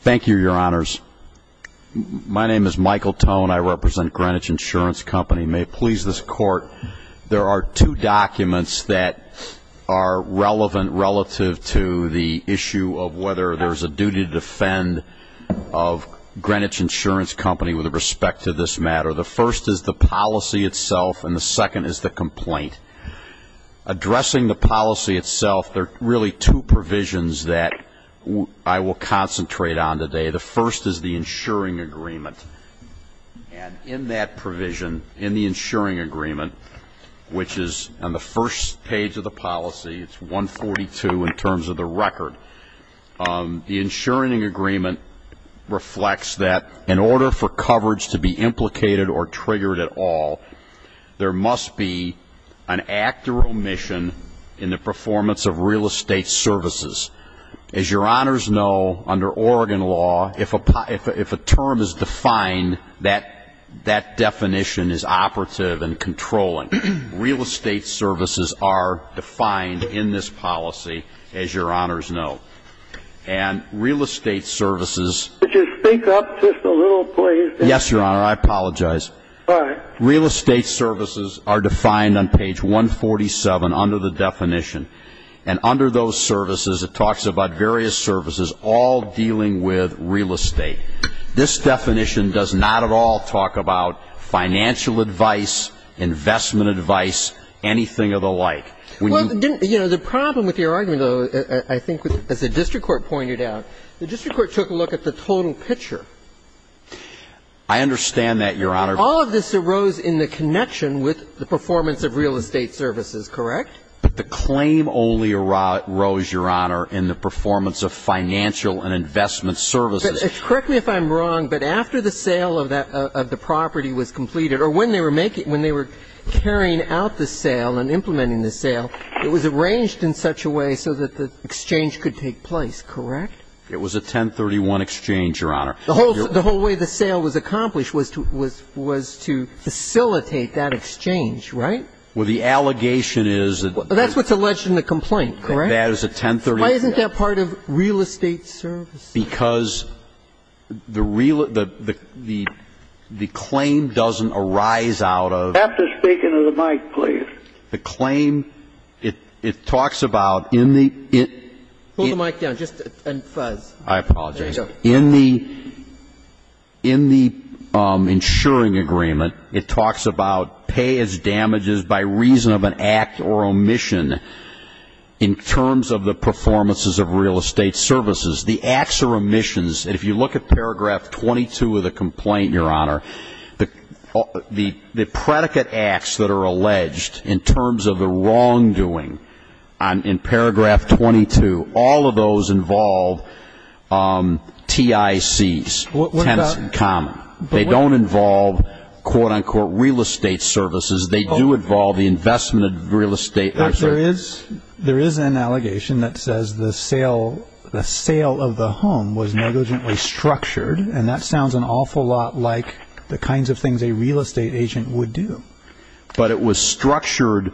Thank you, Your Honors. My name is Michael Tone. I represent Greenwich Insurance Company. May it please this Court, there are two documents that are relevant relative to the issue of whether there's a duty to defend of Greenwich Insurance Company with respect to this matter. The first is the policy itself and the second is the complaint. Addressing the policy itself, there are really two provisions that I will concentrate on today. The first is the insuring agreement. And in that provision, in the insuring agreement, which is on the first page of the policy, it's 142 in terms of the record, the insuring agreement reflects that in order for coverage to be implicated or triggered at all, there must be an act or omission in the performance of real estate services. As Your Honors know, under Oregon law, if a term is defined, that definition is operative and controlling. Real estate services are defined in this policy, as Your Honors know. And real estate services... Could you speak up just a little, please? Yes, Your Honor, I apologize. Real estate services are defined on page 147 under the definition. And under those services, it talks about various services all dealing with real estate. This definition does not at all talk about financial advice, investment advice, anything of the like. Well, you know, the problem with your argument, though, I think, as the district court pointed out, the district court took a look at the total picture. I understand that, Your Honor. All of this arose in the connection with the performance of real estate services, correct? But the claim only arose, Your Honor, in the performance of financial and investment services. Correct me if I'm wrong, but after the sale of the property was completed, or when they were carrying out the sale and implementing the sale, it was arranged in such a way so that the exchange could take place, correct? It was a 1031 exchange, Your Honor. The whole way the sale was accomplished was to facilitate that exchange, right? Well, the allegation is that there's a 1031 exchange. Well, that's what's alleged in the complaint, correct? That is a 1031 exchange. Why isn't that part of real estate services? Because the real ‑‑ the claim doesn't arise out of ‑‑ After speaking to the mic, please. The claim, it talks about in the ‑‑ I apologize. There you go. In the insuring agreement, it talks about pay as damages by reason of an act or omission in terms of the performances of real estate services. The acts or omissions, if you look at paragraph 22 of the complaint, Your Honor, the predicate acts that are alleged in terms of the wrongdoing in paragraph 22, all of those involve TICs, tenants in common. They don't involve, quote, unquote, real estate services. They do involve the investment of real estate. There is an allegation that says the sale of the home was negligently structured, and that sounds an awful lot like the kinds of things a real estate agent would do. But it was structured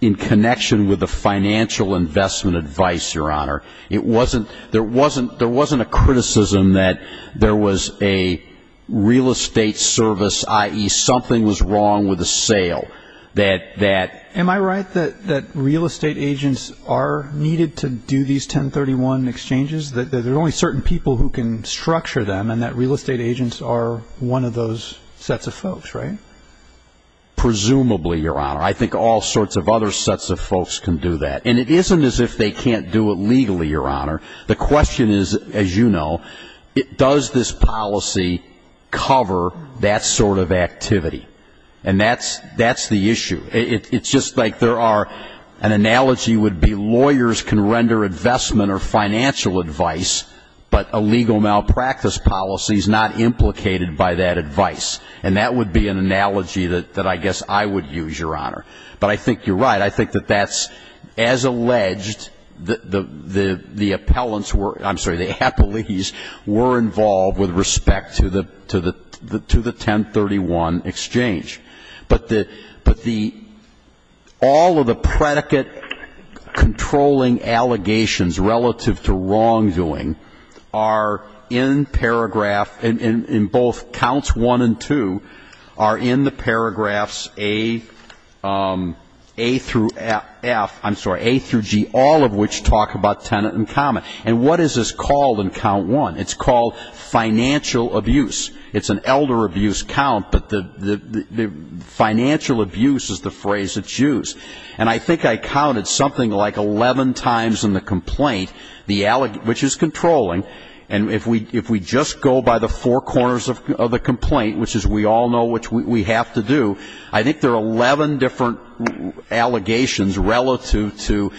in connection with the financial investment advice, Your Honor. It wasn't ‑‑ there wasn't a criticism that there was a real estate service, i.e., something was wrong with the sale, that that ‑‑ Am I right that real estate agents are needed to do these 1031 exchanges, that there are only certain people who can structure them, and that real estate agents are one of those sets of folks, right? Presumably, Your Honor. I think all sorts of other sets of folks can do that. And it isn't as if they can't do it legally, Your Honor. The question is, as you know, does this policy cover that sort of activity? And that's the issue. It's just like there are ‑‑ an analogy would be lawyers can render investment or financial advice, but a legal malpractice policy is not implicated by that advice. And that would be an analogy that I guess I would use, Your Honor. But I think you're right. I think that that's, as alleged, the appellants were ‑‑ I'm sorry, the appellees were involved with respect to the 1031 exchange. But the ‑‑ all of the predicate controlling allegations relative to wrongdoing are in paragraph ‑‑ in both counts one and two are in the paragraphs A through F, I'm sorry, A through G, all of which talk about tenant in common. And what is this called in count one? It's called financial abuse. It's an elder abuse count, but the financial abuse is the phrase that's used. And I think I counted something like 11 times in the complaint, which is controlling, and if we just go by the four corners of the complaint, which is we all know what we have to do, I think there are 11 different allegations relative to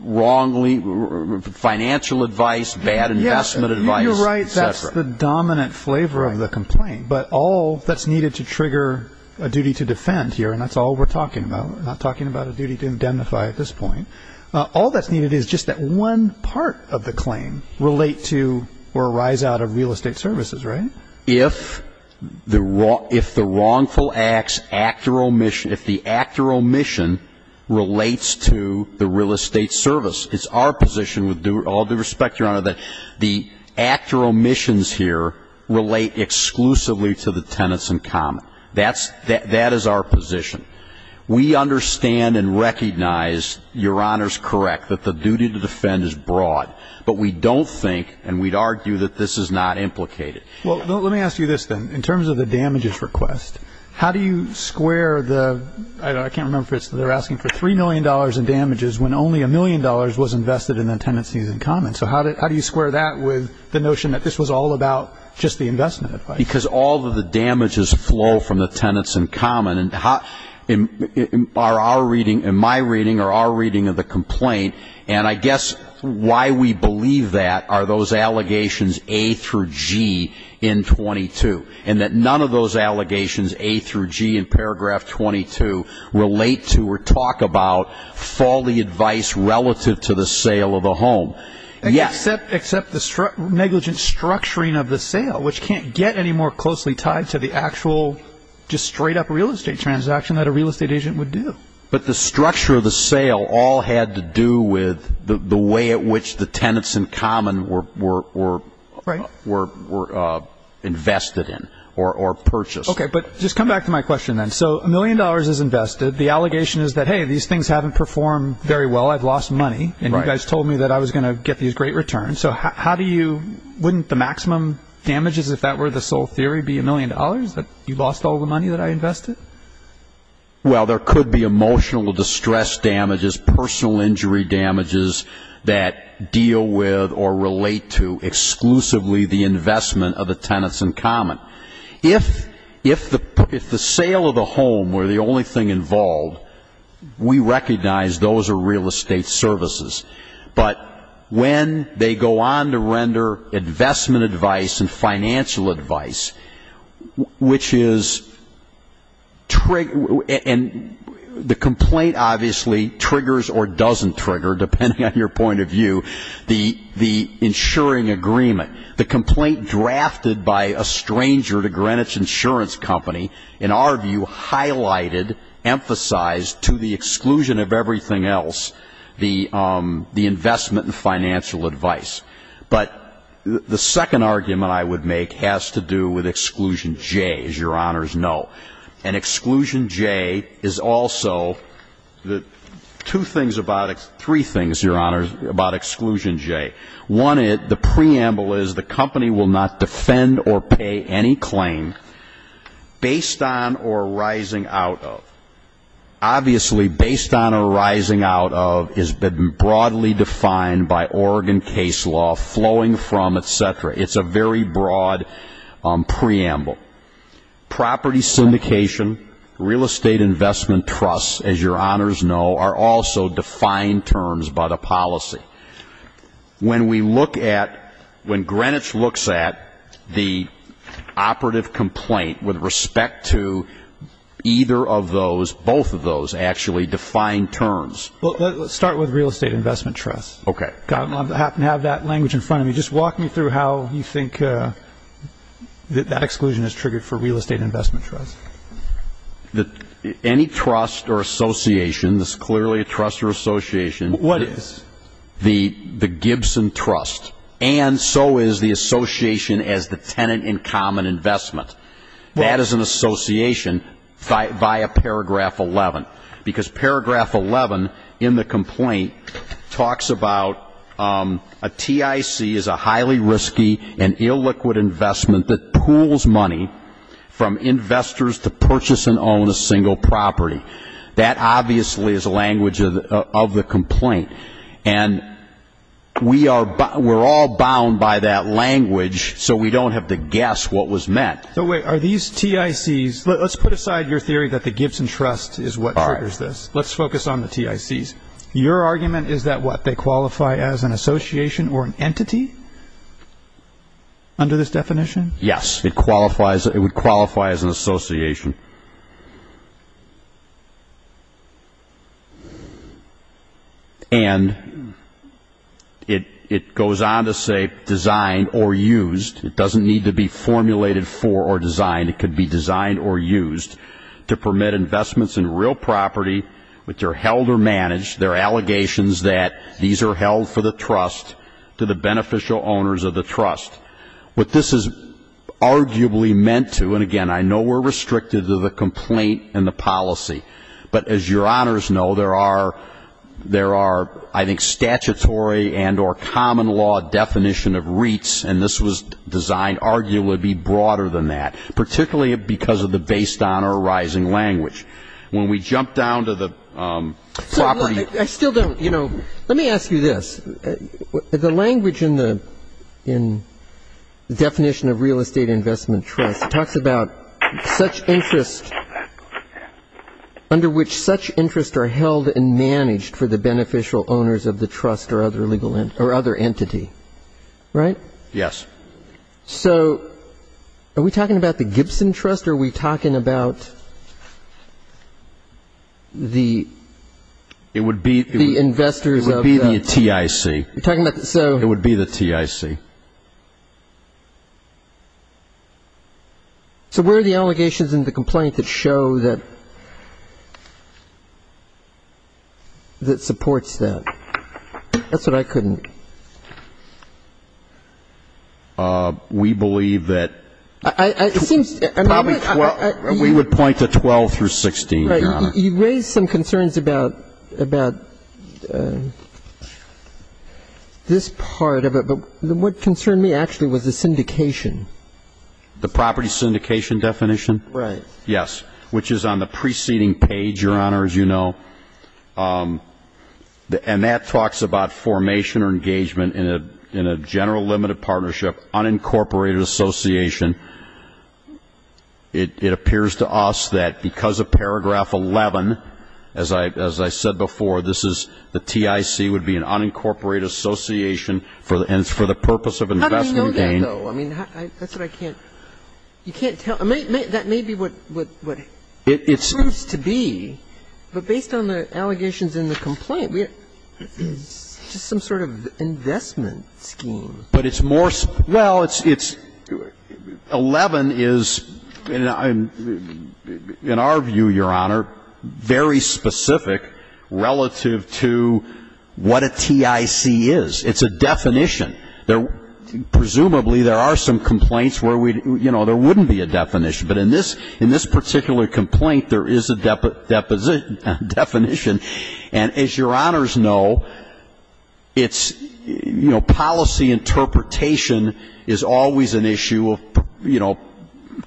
wrongly ‑‑ financial advice, bad investment advice, et cetera. You're right. That's the dominant flavor of the complaint. But all that's needed to trigger a duty to defend here, and that's all we're talking about. We're not talking about a duty to identify at this point. All that's needed is just that one part of the claim relate to or arise out of real estate services, right? If the wrongful acts, act or omission, if the act or omission relates to the real estate service, it's our position with all due respect, Your Honor, that the act or omissions here relate exclusively to the tenants in common. That is our position. We understand and recognize, Your Honor's correct, that the duty to defend is broad. But we don't think, and we'd argue that this is not implicated. Well, let me ask you this then. In terms of the damages request, how do you square the ‑‑ I can't remember if they're asking for $3 million in damages when only a million dollars was invested in the tenants in common. So how do you square that with the notion that this was all about just the investment advice? Because all of the damages flow from the tenants in common. In my reading or our reading of the complaint, and I guess why we believe that are those allegations A through G in 22, and that none of those allegations A through G in paragraph 22 relate to or talk about folly advice relative to the sale of the home. Except the negligent structuring of the sale, which can't get any more closely tied to the actual just straight up real estate transaction that a real estate agent would do. But the structure of the sale all had to do with the way at which the tenants in common were invested in or purchased. Okay, but just come back to my question then. So a million dollars is invested. The allegation is that, hey, these things haven't performed very well. I've lost money. And you guys told me that I was going to get these great returns. So wouldn't the maximum damages, if that were the sole theory, be a million dollars, that you lost all the money that I invested? Well, there could be emotional distress damages, personal injury damages that deal with or relate to exclusively the investment of the tenants in common. If the sale of the home were the only thing involved, we recognize those are real estate services. But when they go on to render investment advice and financial advice, which is the complaint obviously triggers or doesn't trigger, depending on your point of view, the insuring agreement. The complaint drafted by a stranger to Greenwich Insurance Company, in our view, highlighted, emphasized to the exclusion of everything else, the investment and financial advice. But the second argument I would make has to do with Exclusion J, as Your Honors know. And Exclusion J is also the two things about it, three things, Your Honors, about Exclusion J. The preamble is the company will not defend or pay any claim based on or rising out of. Obviously, based on or rising out of has been broadly defined by Oregon case law, flowing from, etc. It's a very broad preamble. Property syndication, real estate investment trusts, as Your Honors know, are also defined terms by the policy. When we look at, when Greenwich looks at the operative complaint with respect to either of those, both of those actually defined terms. Well, let's start with real estate investment trusts. Okay. I happen to have that language in front of me. Just walk me through how you think that that exclusion is triggered for real estate investment trusts. Any trust or association, it's clearly a trust or association. What is? The Gibson Trust. And so is the association as the tenant in common investment. That is an association via paragraph 11. Because paragraph 11 in the complaint talks about a TIC is a highly risky and illiquid investment that pools money from investors to purchase and own a single property. That obviously is a language of the complaint. And we are, we're all bound by that language so we don't have to guess what was meant. So wait, are these TICs, let's put aside your theory that the Gibson Trust is what triggers this. Let's focus on the TICs. Your argument is that what, they qualify as an association or an entity under this definition? Yes, it qualifies, it would qualify as an association. And it goes on to say designed or used. It doesn't need to be formulated for or designed. It could be designed or used to permit investments in real property which are held or managed. There are allegations that these are held for the trust to the beneficial owners of the trust. What this is arguably meant to, and again, I know we're restricted to the complaint and the policy. But as your honors know, there are, I think, statutory and or common law definition of REITs, and this was designed arguably to be broader than that, particularly because of the based on or arising language. When we jump down to the property. Well, I still don't, you know, let me ask you this. The language in the definition of real estate investment trust talks about such interest, under which such interest are held and managed for the beneficial owners of the trust or other legal, or other entity. Right? Yes. So are we talking about the Gibson Trust or are we talking about the investors of the. It would be the TIC. We're talking about the, so. It would be the TIC. So where are the allegations in the complaint that show that supports that? That's what I couldn't. We believe that. It seems. We would point to 12 through 16, your honor. You raised some concerns about this part of it, but what concerned me actually was the syndication. The property syndication definition? Right. Yes, which is on the preceding page, your honor, as you know. And that talks about formation or engagement in a general limited partnership, unincorporated association. It appears to us that because of paragraph 11, as I said before, this is the TIC would be an unincorporated association and it's for the purpose of investment gain. How do you know that, though? I mean, that's what I can't. You can't tell. That may be what it proves to be. But based on the allegations in the complaint, just some sort of investment scheme. But it's more, well, it's 11 is, in our view, your honor, very specific relative to what a TIC is. It's a definition. Presumably there are some complaints where we, you know, there wouldn't be a definition. But in this particular complaint, there is a definition. And as your honors know, it's, you know, policy interpretation is always an issue of, you know,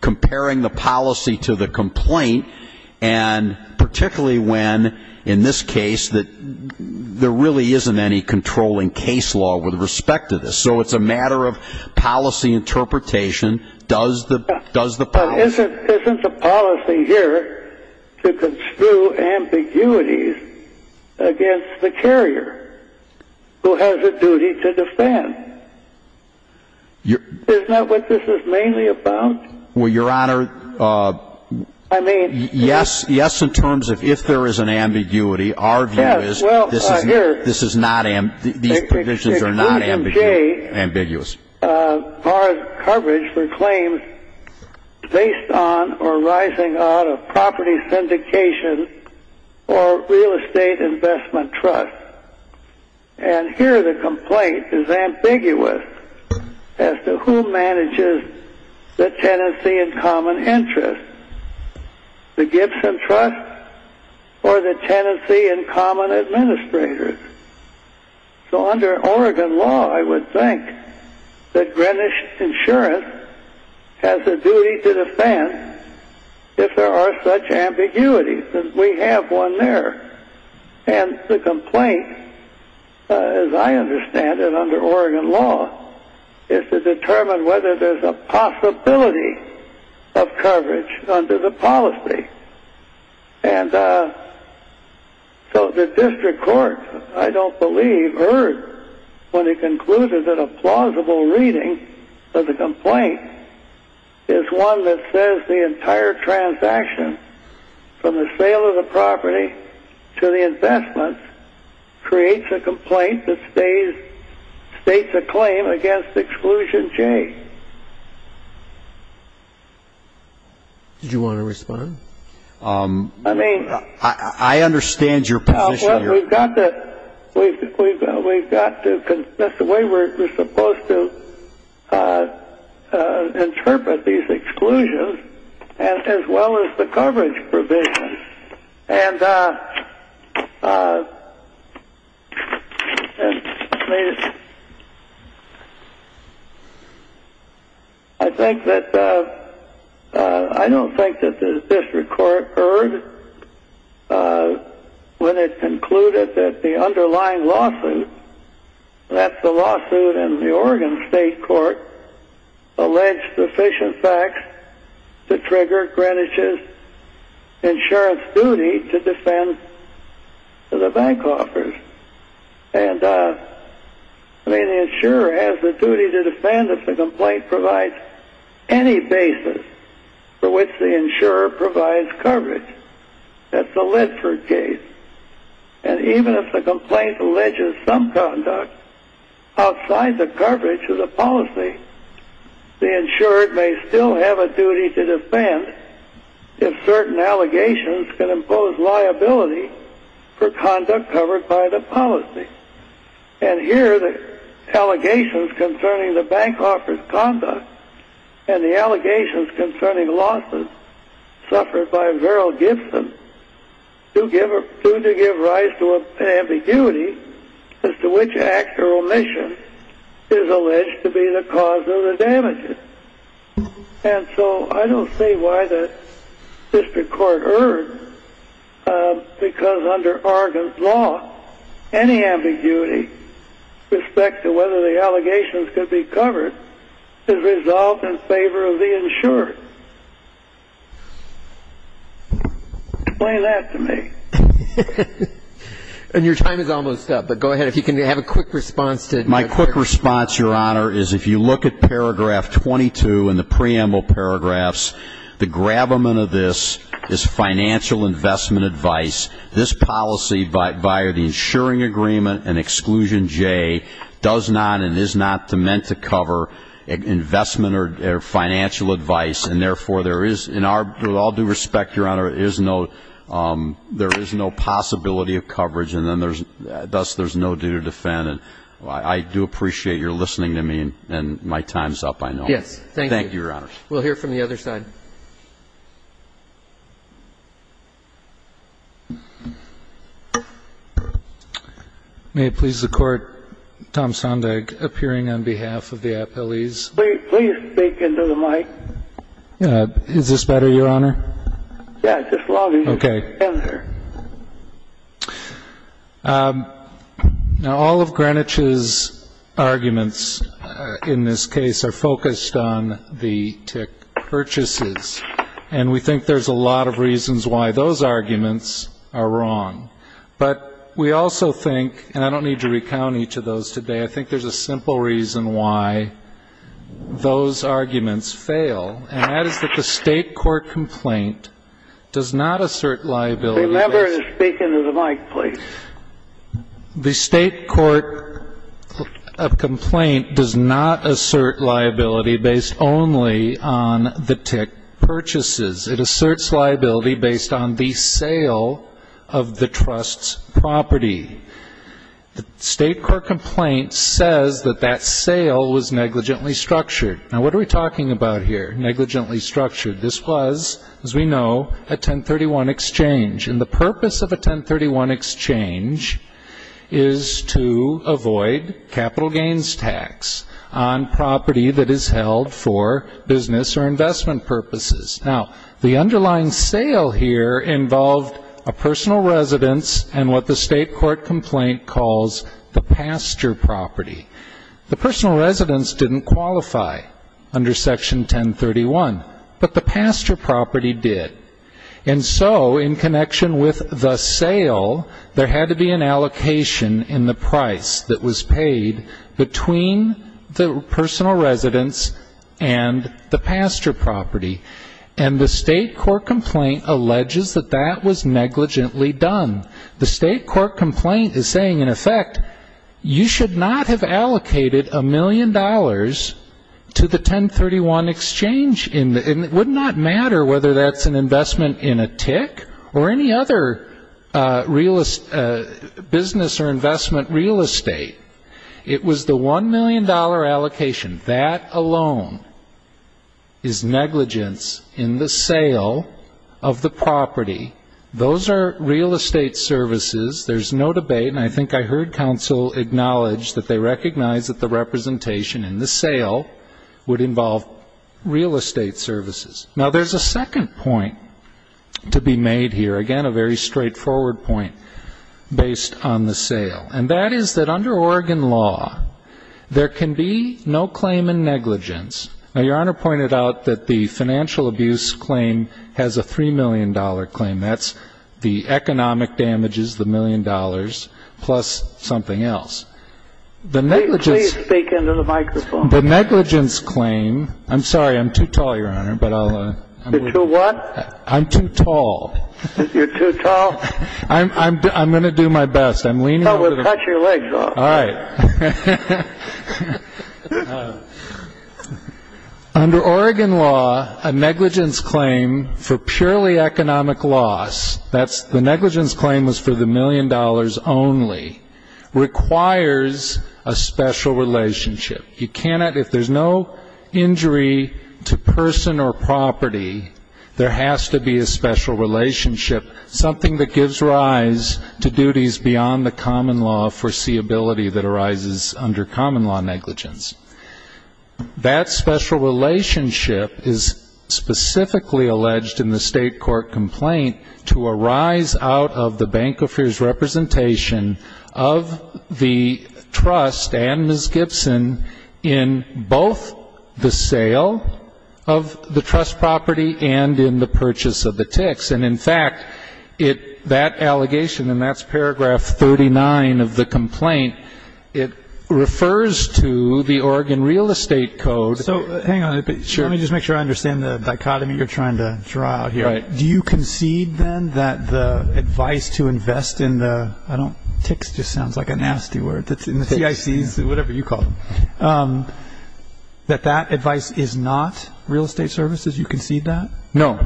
comparing the policy to the complaint. And particularly when, in this case, there really isn't any controlling case law with respect to this. So it's a matter of policy interpretation. But isn't the policy here to construe ambiguities against the carrier who has a duty to defend? Isn't that what this is mainly about? Well, your honor, yes, in terms of if there is an ambiguity. Our view is this is not, these provisions are not ambiguous. Our coverage for claims based on or rising out of property syndication or real estate investment trust. And here the complaint is ambiguous as to who manages the tenancy and common interest. The Gibson Trust or the tenancy and common administrators. So under Oregon law, I would think that Greenwich Insurance has a duty to defend if there are such ambiguities. And we have one there. And the complaint, as I understand it under Oregon law, is to determine whether there's a possibility of coverage under the policy. And so the district court, I don't believe, heard when it concluded that a plausible reading of the complaint is one that says the entire transaction from the sale of the property to the investment creates a complaint that states a claim against exclusion J. Did you want to respond? I mean. I understand your position. We've got to, that's the way we're supposed to interpret these exclusions as well as the coverage provisions. And I think that, I don't think that the district court heard when it concluded that the underlying lawsuit, that's the lawsuit in the Oregon State Court, alleged sufficient facts to trigger Greenwich's insurance duty to defend the bank offers. And I mean the insurer has the duty to defend if the complaint provides any basis for which the insurer provides coverage. That's the Ledford case. And even if the complaint alleges some conduct outside the coverage of the policy, the insurer may still have a duty to defend if certain allegations can impose liability for conduct covered by the policy. And here the allegations concerning the bank offers conduct and the allegations concerning losses suffered by Verrill Gibson do give rise to an ambiguity as to which act or omission is alleged to be the cause of the damages. And so I don't see why the district court erred because under Oregon's law, any ambiguity with respect to whether the allegations could be covered is resolved in favor of the insurer. Explain that to me. And your time is almost up, but go ahead. If you can have a quick response to it. My quick response, Your Honor, is if you look at paragraph 22 in the preamble paragraphs, the gravamen of this is financial investment advice. This policy, via the insuring agreement and exclusion J, does not and is not meant to cover investment or financial advice, and therefore there is, in all due respect, Your Honor, there is no possibility of coverage, and thus there's no duty to defend. And I do appreciate your listening to me, and my time's up, I know. Yes. Thank you. Thank you, Your Honor. We'll hear from the other side. May it please the Court, Tom Sondag appearing on behalf of the appellees. Please speak into the mic. Is this better, Your Honor? Yeah, just log in. Okay. Now, all of Greenwich's arguments in this case are focused on the tick purchases, and we think there's a lot of reasons why those arguments are wrong. But we also think, and I don't need to recount each of those today, I think there's a simple reason why those arguments fail, and that is that the State court complaint does not assert liability. The member is speaking to the mic, please. The State court complaint does not assert liability based only on the tick purchases. It asserts liability based on the sale of the trust's property. The State court complaint says that that sale was negligently structured. Now, what are we talking about here, negligently structured? This was, as we know, a 1031 exchange, and the purpose of a 1031 exchange is to avoid capital gains tax on property that is held for business or investment purposes. Now, the underlying sale here involved a personal residence and what the State court complaint calls the pasture property. The personal residence didn't qualify under Section 1031, but the pasture property did. And so in connection with the sale, there had to be an allocation in the price that was paid between the personal residence and the pasture property, and the State court complaint alleges that that was negligently done. The State court complaint is saying, in effect, you should not have allocated a million dollars to the 1031 exchange, and it would not matter whether that's an investment in a tick or any other business or investment real estate. It was the $1 million allocation. That alone is negligence in the sale of the property. Those are real estate services. There's no debate, and I think I heard counsel acknowledge that they recognize that the representation in the sale would involve real estate services. Now, there's a second point to be made here, again, a very straightforward point based on the sale, and that is that under Oregon law, there can be no claim in negligence. Now, Your Honor pointed out that the financial abuse claim has a $3 million claim. That's the economic damages, the million dollars, plus something else. The negligence. Please speak into the microphone. The negligence claim. I'm sorry. I'm too tall, Your Honor, but I'll... You're too what? I'm too tall. You're too tall? I'm going to do my best. I'm leaning over the... Well, we'll cut your legs off. All right. All right. Under Oregon law, a negligence claim for purely economic loss, that's the negligence claim was for the million dollars only, requires a special relationship. You cannot, if there's no injury to person or property, there has to be a special relationship, something that gives rise to duties beyond the common law foreseeability that arises under common law negligence. That special relationship is specifically alleged in the state court complaint to arise out of the banker's representation of the trust and Ms. Gibson in both the sale of the trust property and in the purchase of the ticks. And, in fact, that allegation, and that's paragraph 39 of the complaint, it refers to the Oregon real estate code. So hang on a minute. Sure. Let me just make sure I understand the dichotomy you're trying to draw here. Right. Do you concede then that the advice to invest in the, I don't, ticks just sounds like a nasty word, in the CICs, whatever you call them, that that advice is not real estate services? You concede that? No.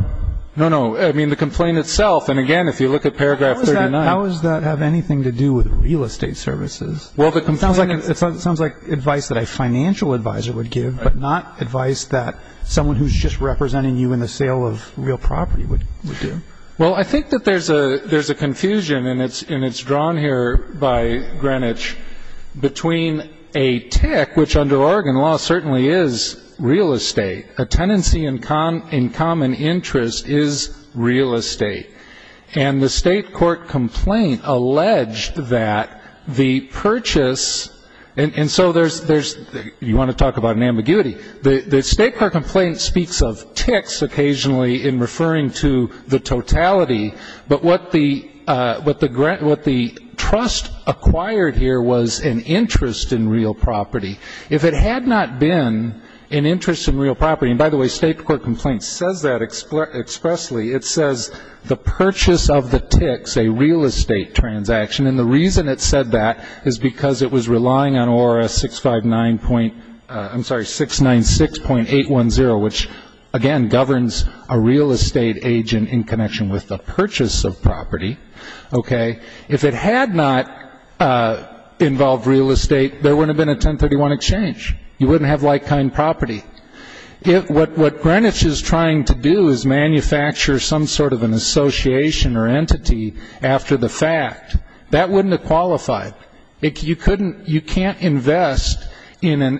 No, no. I mean, the complaint itself, and, again, if you look at paragraph 39. How does that have anything to do with real estate services? Well, the complaint is. It sounds like advice that a financial advisor would give, but not advice that someone who's just representing you in the sale of real property would do. Well, I think that there's a confusion, and it's drawn here by Greenwich, between a tick, which under Oregon law certainly is real estate, a tenancy in common interest is real estate. And the state court complaint alleged that the purchase, and so there's, you want to talk about an ambiguity, the state court complaint speaks of ticks occasionally in referring to the totality, but what the trust acquired here was an interest in real property. If it had not been an interest in real property, and, by the way, state court complaint says that expressly. It says the purchase of the ticks, a real estate transaction, and the reason it said that is because it was relying on ORS 659. I'm sorry, 696.810, which, again, governs a real estate agent in connection with the purchase of property, okay? If it had not involved real estate, there wouldn't have been a 1031 exchange. You wouldn't have like-kind property. What Greenwich is trying to do is manufacture some sort of an association or entity after the fact. That wouldn't have qualified. You couldn't, you can't invest in an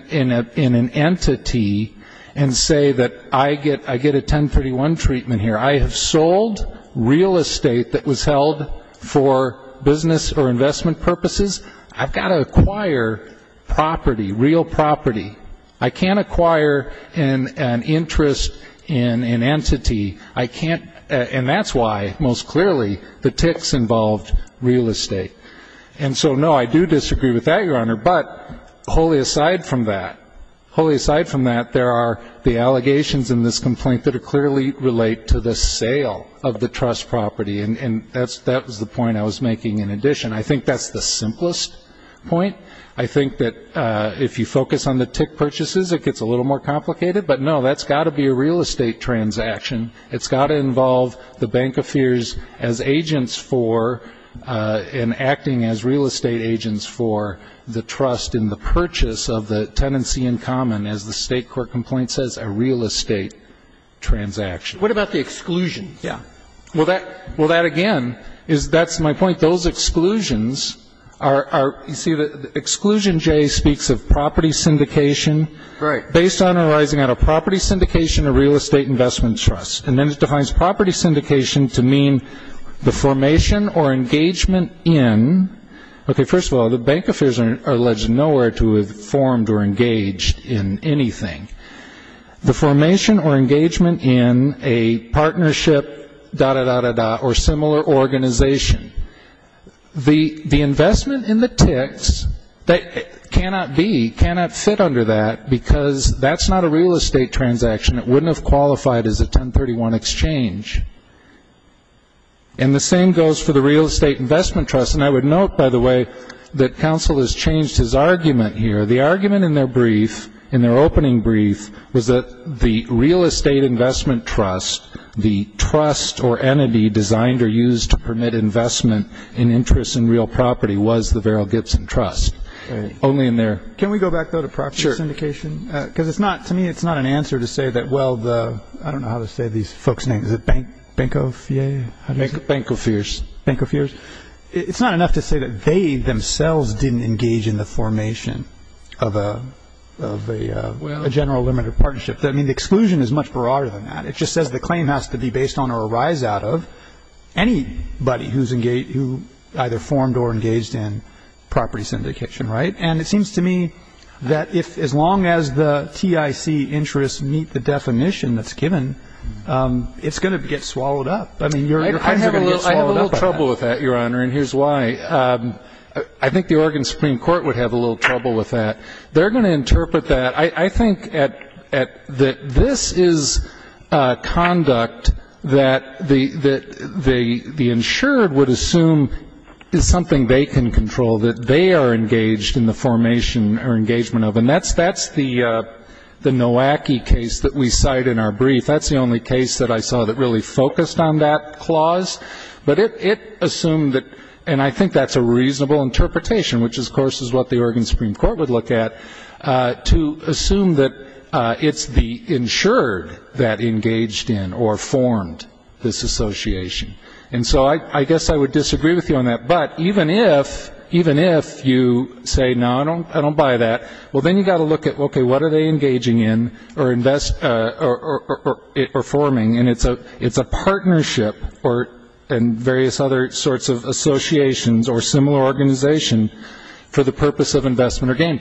entity and say that I get a 1031 treatment here. I have sold real estate that was held for business or investment purposes. I've got to acquire property, real property. I can't acquire an interest in an entity. I can't, and that's why, most clearly, the ticks involved real estate. And so, no, I do disagree with that, Your Honor, but wholly aside from that, there are the allegations in this complaint that clearly relate to the sale of the trust property, and that was the point I was making in addition. I think that's the simplest point. I think that if you focus on the tick purchases, it gets a little more complicated. But, no, that's got to be a real estate transaction. It's got to involve the bank offers as agents for, and acting as real estate agents for the trust in the purchase of the tenancy in common, as the state court complaint says, a real estate transaction. What about the exclusion? Yeah. Well, that, again, is, that's my point. Those exclusions are, you see, the exclusion J speaks of property syndication. Right. Based on or arising out of property syndication or real estate investment trust. And then it defines property syndication to mean the formation or engagement in. Okay, first of all, the bank offers are alleged nowhere to have formed or engaged in anything. The formation or engagement in a partnership, da-da-da-da-da, or similar organization. The investment in the ticks cannot be, cannot fit under that, because that's not a real estate transaction. It wouldn't have qualified as a 1031 exchange. And the same goes for the real estate investment trust. And I would note, by the way, that counsel has changed his argument here. The argument in their brief, in their opening brief, was that the real estate investment trust, the trust or entity designed or used to permit investment in interest in real property, was the Verrill Gibson Trust, only in their. Sure. Because it's not, to me, it's not an answer to say that, well, the, I don't know how to say these folks' names. Is it Bancofier? Bancofiers. Bancofiers. It's not enough to say that they themselves didn't engage in the formation of a general limited partnership. I mean, the exclusion is much broader than that. It just says the claim has to be based on or arise out of anybody who either formed or engaged in property syndication. Right. And it seems to me that if, as long as the TIC interests meet the definition that's given, it's going to get swallowed up. I mean, your claims are going to get swallowed up. I have a little trouble with that, Your Honor, and here's why. I think the Oregon Supreme Court would have a little trouble with that. They're going to interpret that. I think that this is conduct that the insured would assume is something they can control, that they are engaged in the formation or engagement of, and that's the Nowacki case that we cite in our brief. That's the only case that I saw that really focused on that clause. But it assumed that, and I think that's a reasonable interpretation, which, of course, is what the Oregon Supreme Court would look at, to assume that it's the insured that engaged in or formed this association. And so I guess I would disagree with you on that. But even if you say, no, I don't buy that, well, then you've got to look at, okay, what are they engaging in or forming, and it's a partnership and various other sorts of associations or similar organization for the purpose of investment or gain.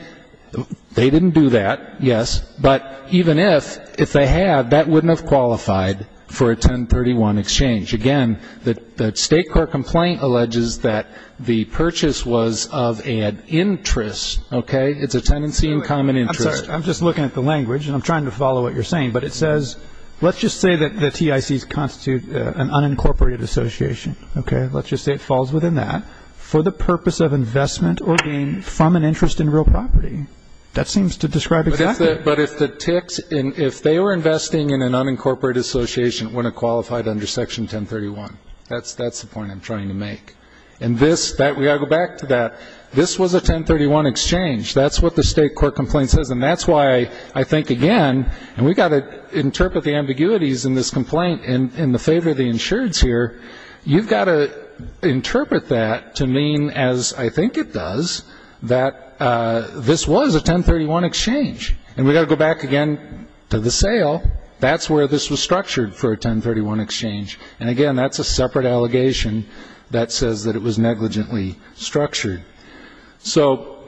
They didn't do that, yes, but even if, if they had, that wouldn't have qualified for a 1031 exchange. Again, the State court complaint alleges that the purchase was of an interest, okay? It's a tenancy in common interest. I'm sorry. I'm just looking at the language, and I'm trying to follow what you're saying. But it says, let's just say that the TICs constitute an unincorporated association, okay? Let's just say it falls within that for the purpose of investment or gain from an interest in real property. That seems to describe exactly. But if the TICs, if they were investing in an unincorporated association, it wouldn't have qualified under Section 1031. That's the point I'm trying to make. And this, we've got to go back to that. This was a 1031 exchange. That's what the State court complaint says. And that's why I think, again, and we've got to interpret the ambiguities in this complaint in the favor of the insureds here. You've got to interpret that to mean, as I think it does, that this was a 1031 exchange. And we've got to go back again to the sale. That's where this was structured for a 1031 exchange. And, again, that's a separate allegation that says that it was negligently structured. So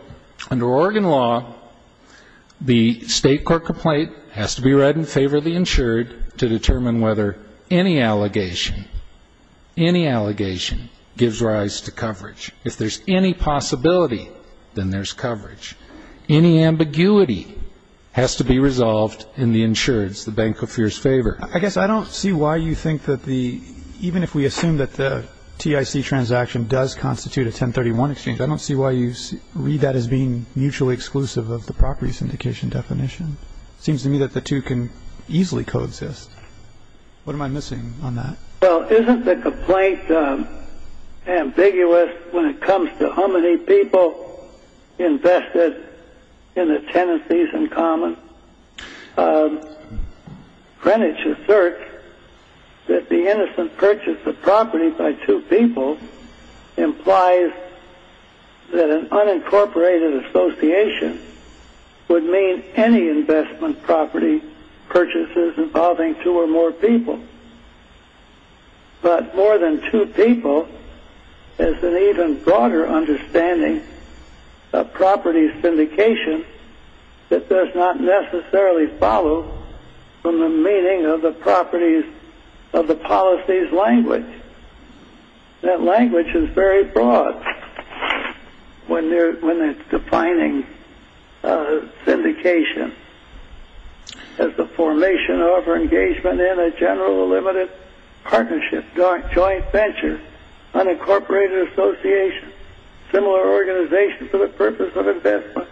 under Oregon law, the State court complaint has to be read in favor of the insured to determine whether any allegation, any allegation gives rise to coverage. If there's any possibility, then there's coverage. Any ambiguity has to be resolved in the insured's, the bank of fear's favor. I guess I don't see why you think that the, even if we assume that the TIC transaction does constitute a 1031 exchange, I don't see why you read that as being mutually exclusive of the property syndication definition. It seems to me that the two can easily coexist. What am I missing on that? Well, isn't the complaint ambiguous when it comes to how many people invested in the tenancies in common? Greenwich asserts that the innocent purchase of property by two people implies that an unincorporated association would mean any investment property purchases involving two or more people. But more than two people is an even broader understanding of property syndication that does not necessarily follow from the meaning of the properties of the policies language. That language is very broad when it's defining syndication. As the formation of or engagement in a general or limited partnership, joint venture, unincorporated association, similar organization for the purpose of investment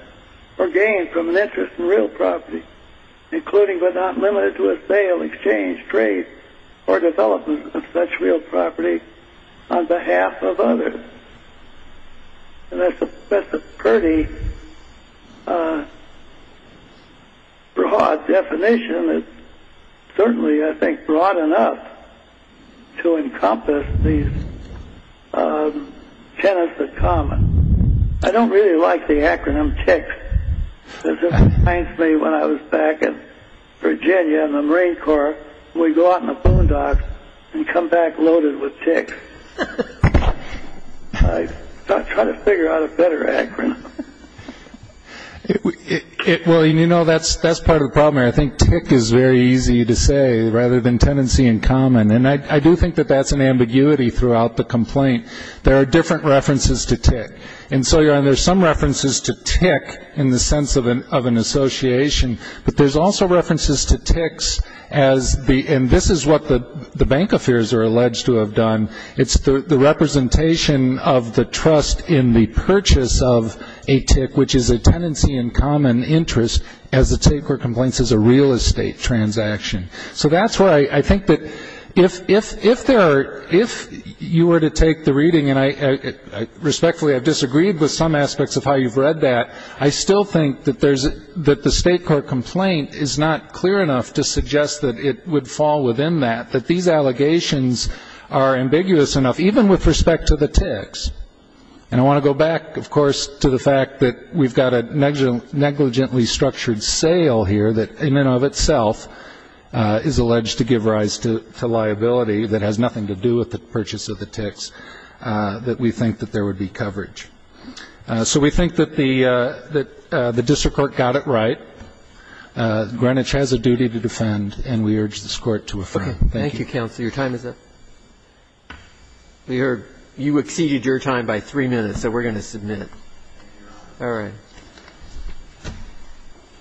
or gain from an interest in real property, including but not limited to a sale, exchange, trade, or development of such real property on behalf of others. And that's a pretty broad definition. It's certainly, I think, broad enough to encompass these tenants in common. I don't really like the acronym TICC. It just reminds me when I was back in Virginia in the Marine Corps, we'd go out in the boondocks and come back loaded with TICC. I'm trying to figure out a better acronym. Well, you know, that's part of the problem here. I think TICC is very easy to say rather than tenancy in common. And I do think that that's an ambiguity throughout the complaint. There are different references to TICC. And so there are some references to TICC in the sense of an association, but there's also references to TICCs as the end. This is what the bank affairs are alleged to have done. It's the representation of the trust in the purchase of a TICC, which is a tenancy in common interest as a TICC for complaints as a real estate transaction. So that's where I think that if you were to take the reading, and respectfully I've disagreed with some aspects of how you've read that, I still think that the State Court complaint is not clear enough to suggest that it would fall within that, that these allegations are ambiguous enough, even with respect to the TICCs. And I want to go back, of course, to the fact that we've got a negligently structured sale here that in and of itself is alleged to give rise to liability that has nothing to do with the purchase of the TICCs, that we think that there would be coverage. So we think that the district court got it right. Greenwich has a duty to defend, and we urge this Court to affirm. Thank you. Thank you, counsel. Your time is up. We heard you exceeded your time by three minutes, so we're going to submit it. All right.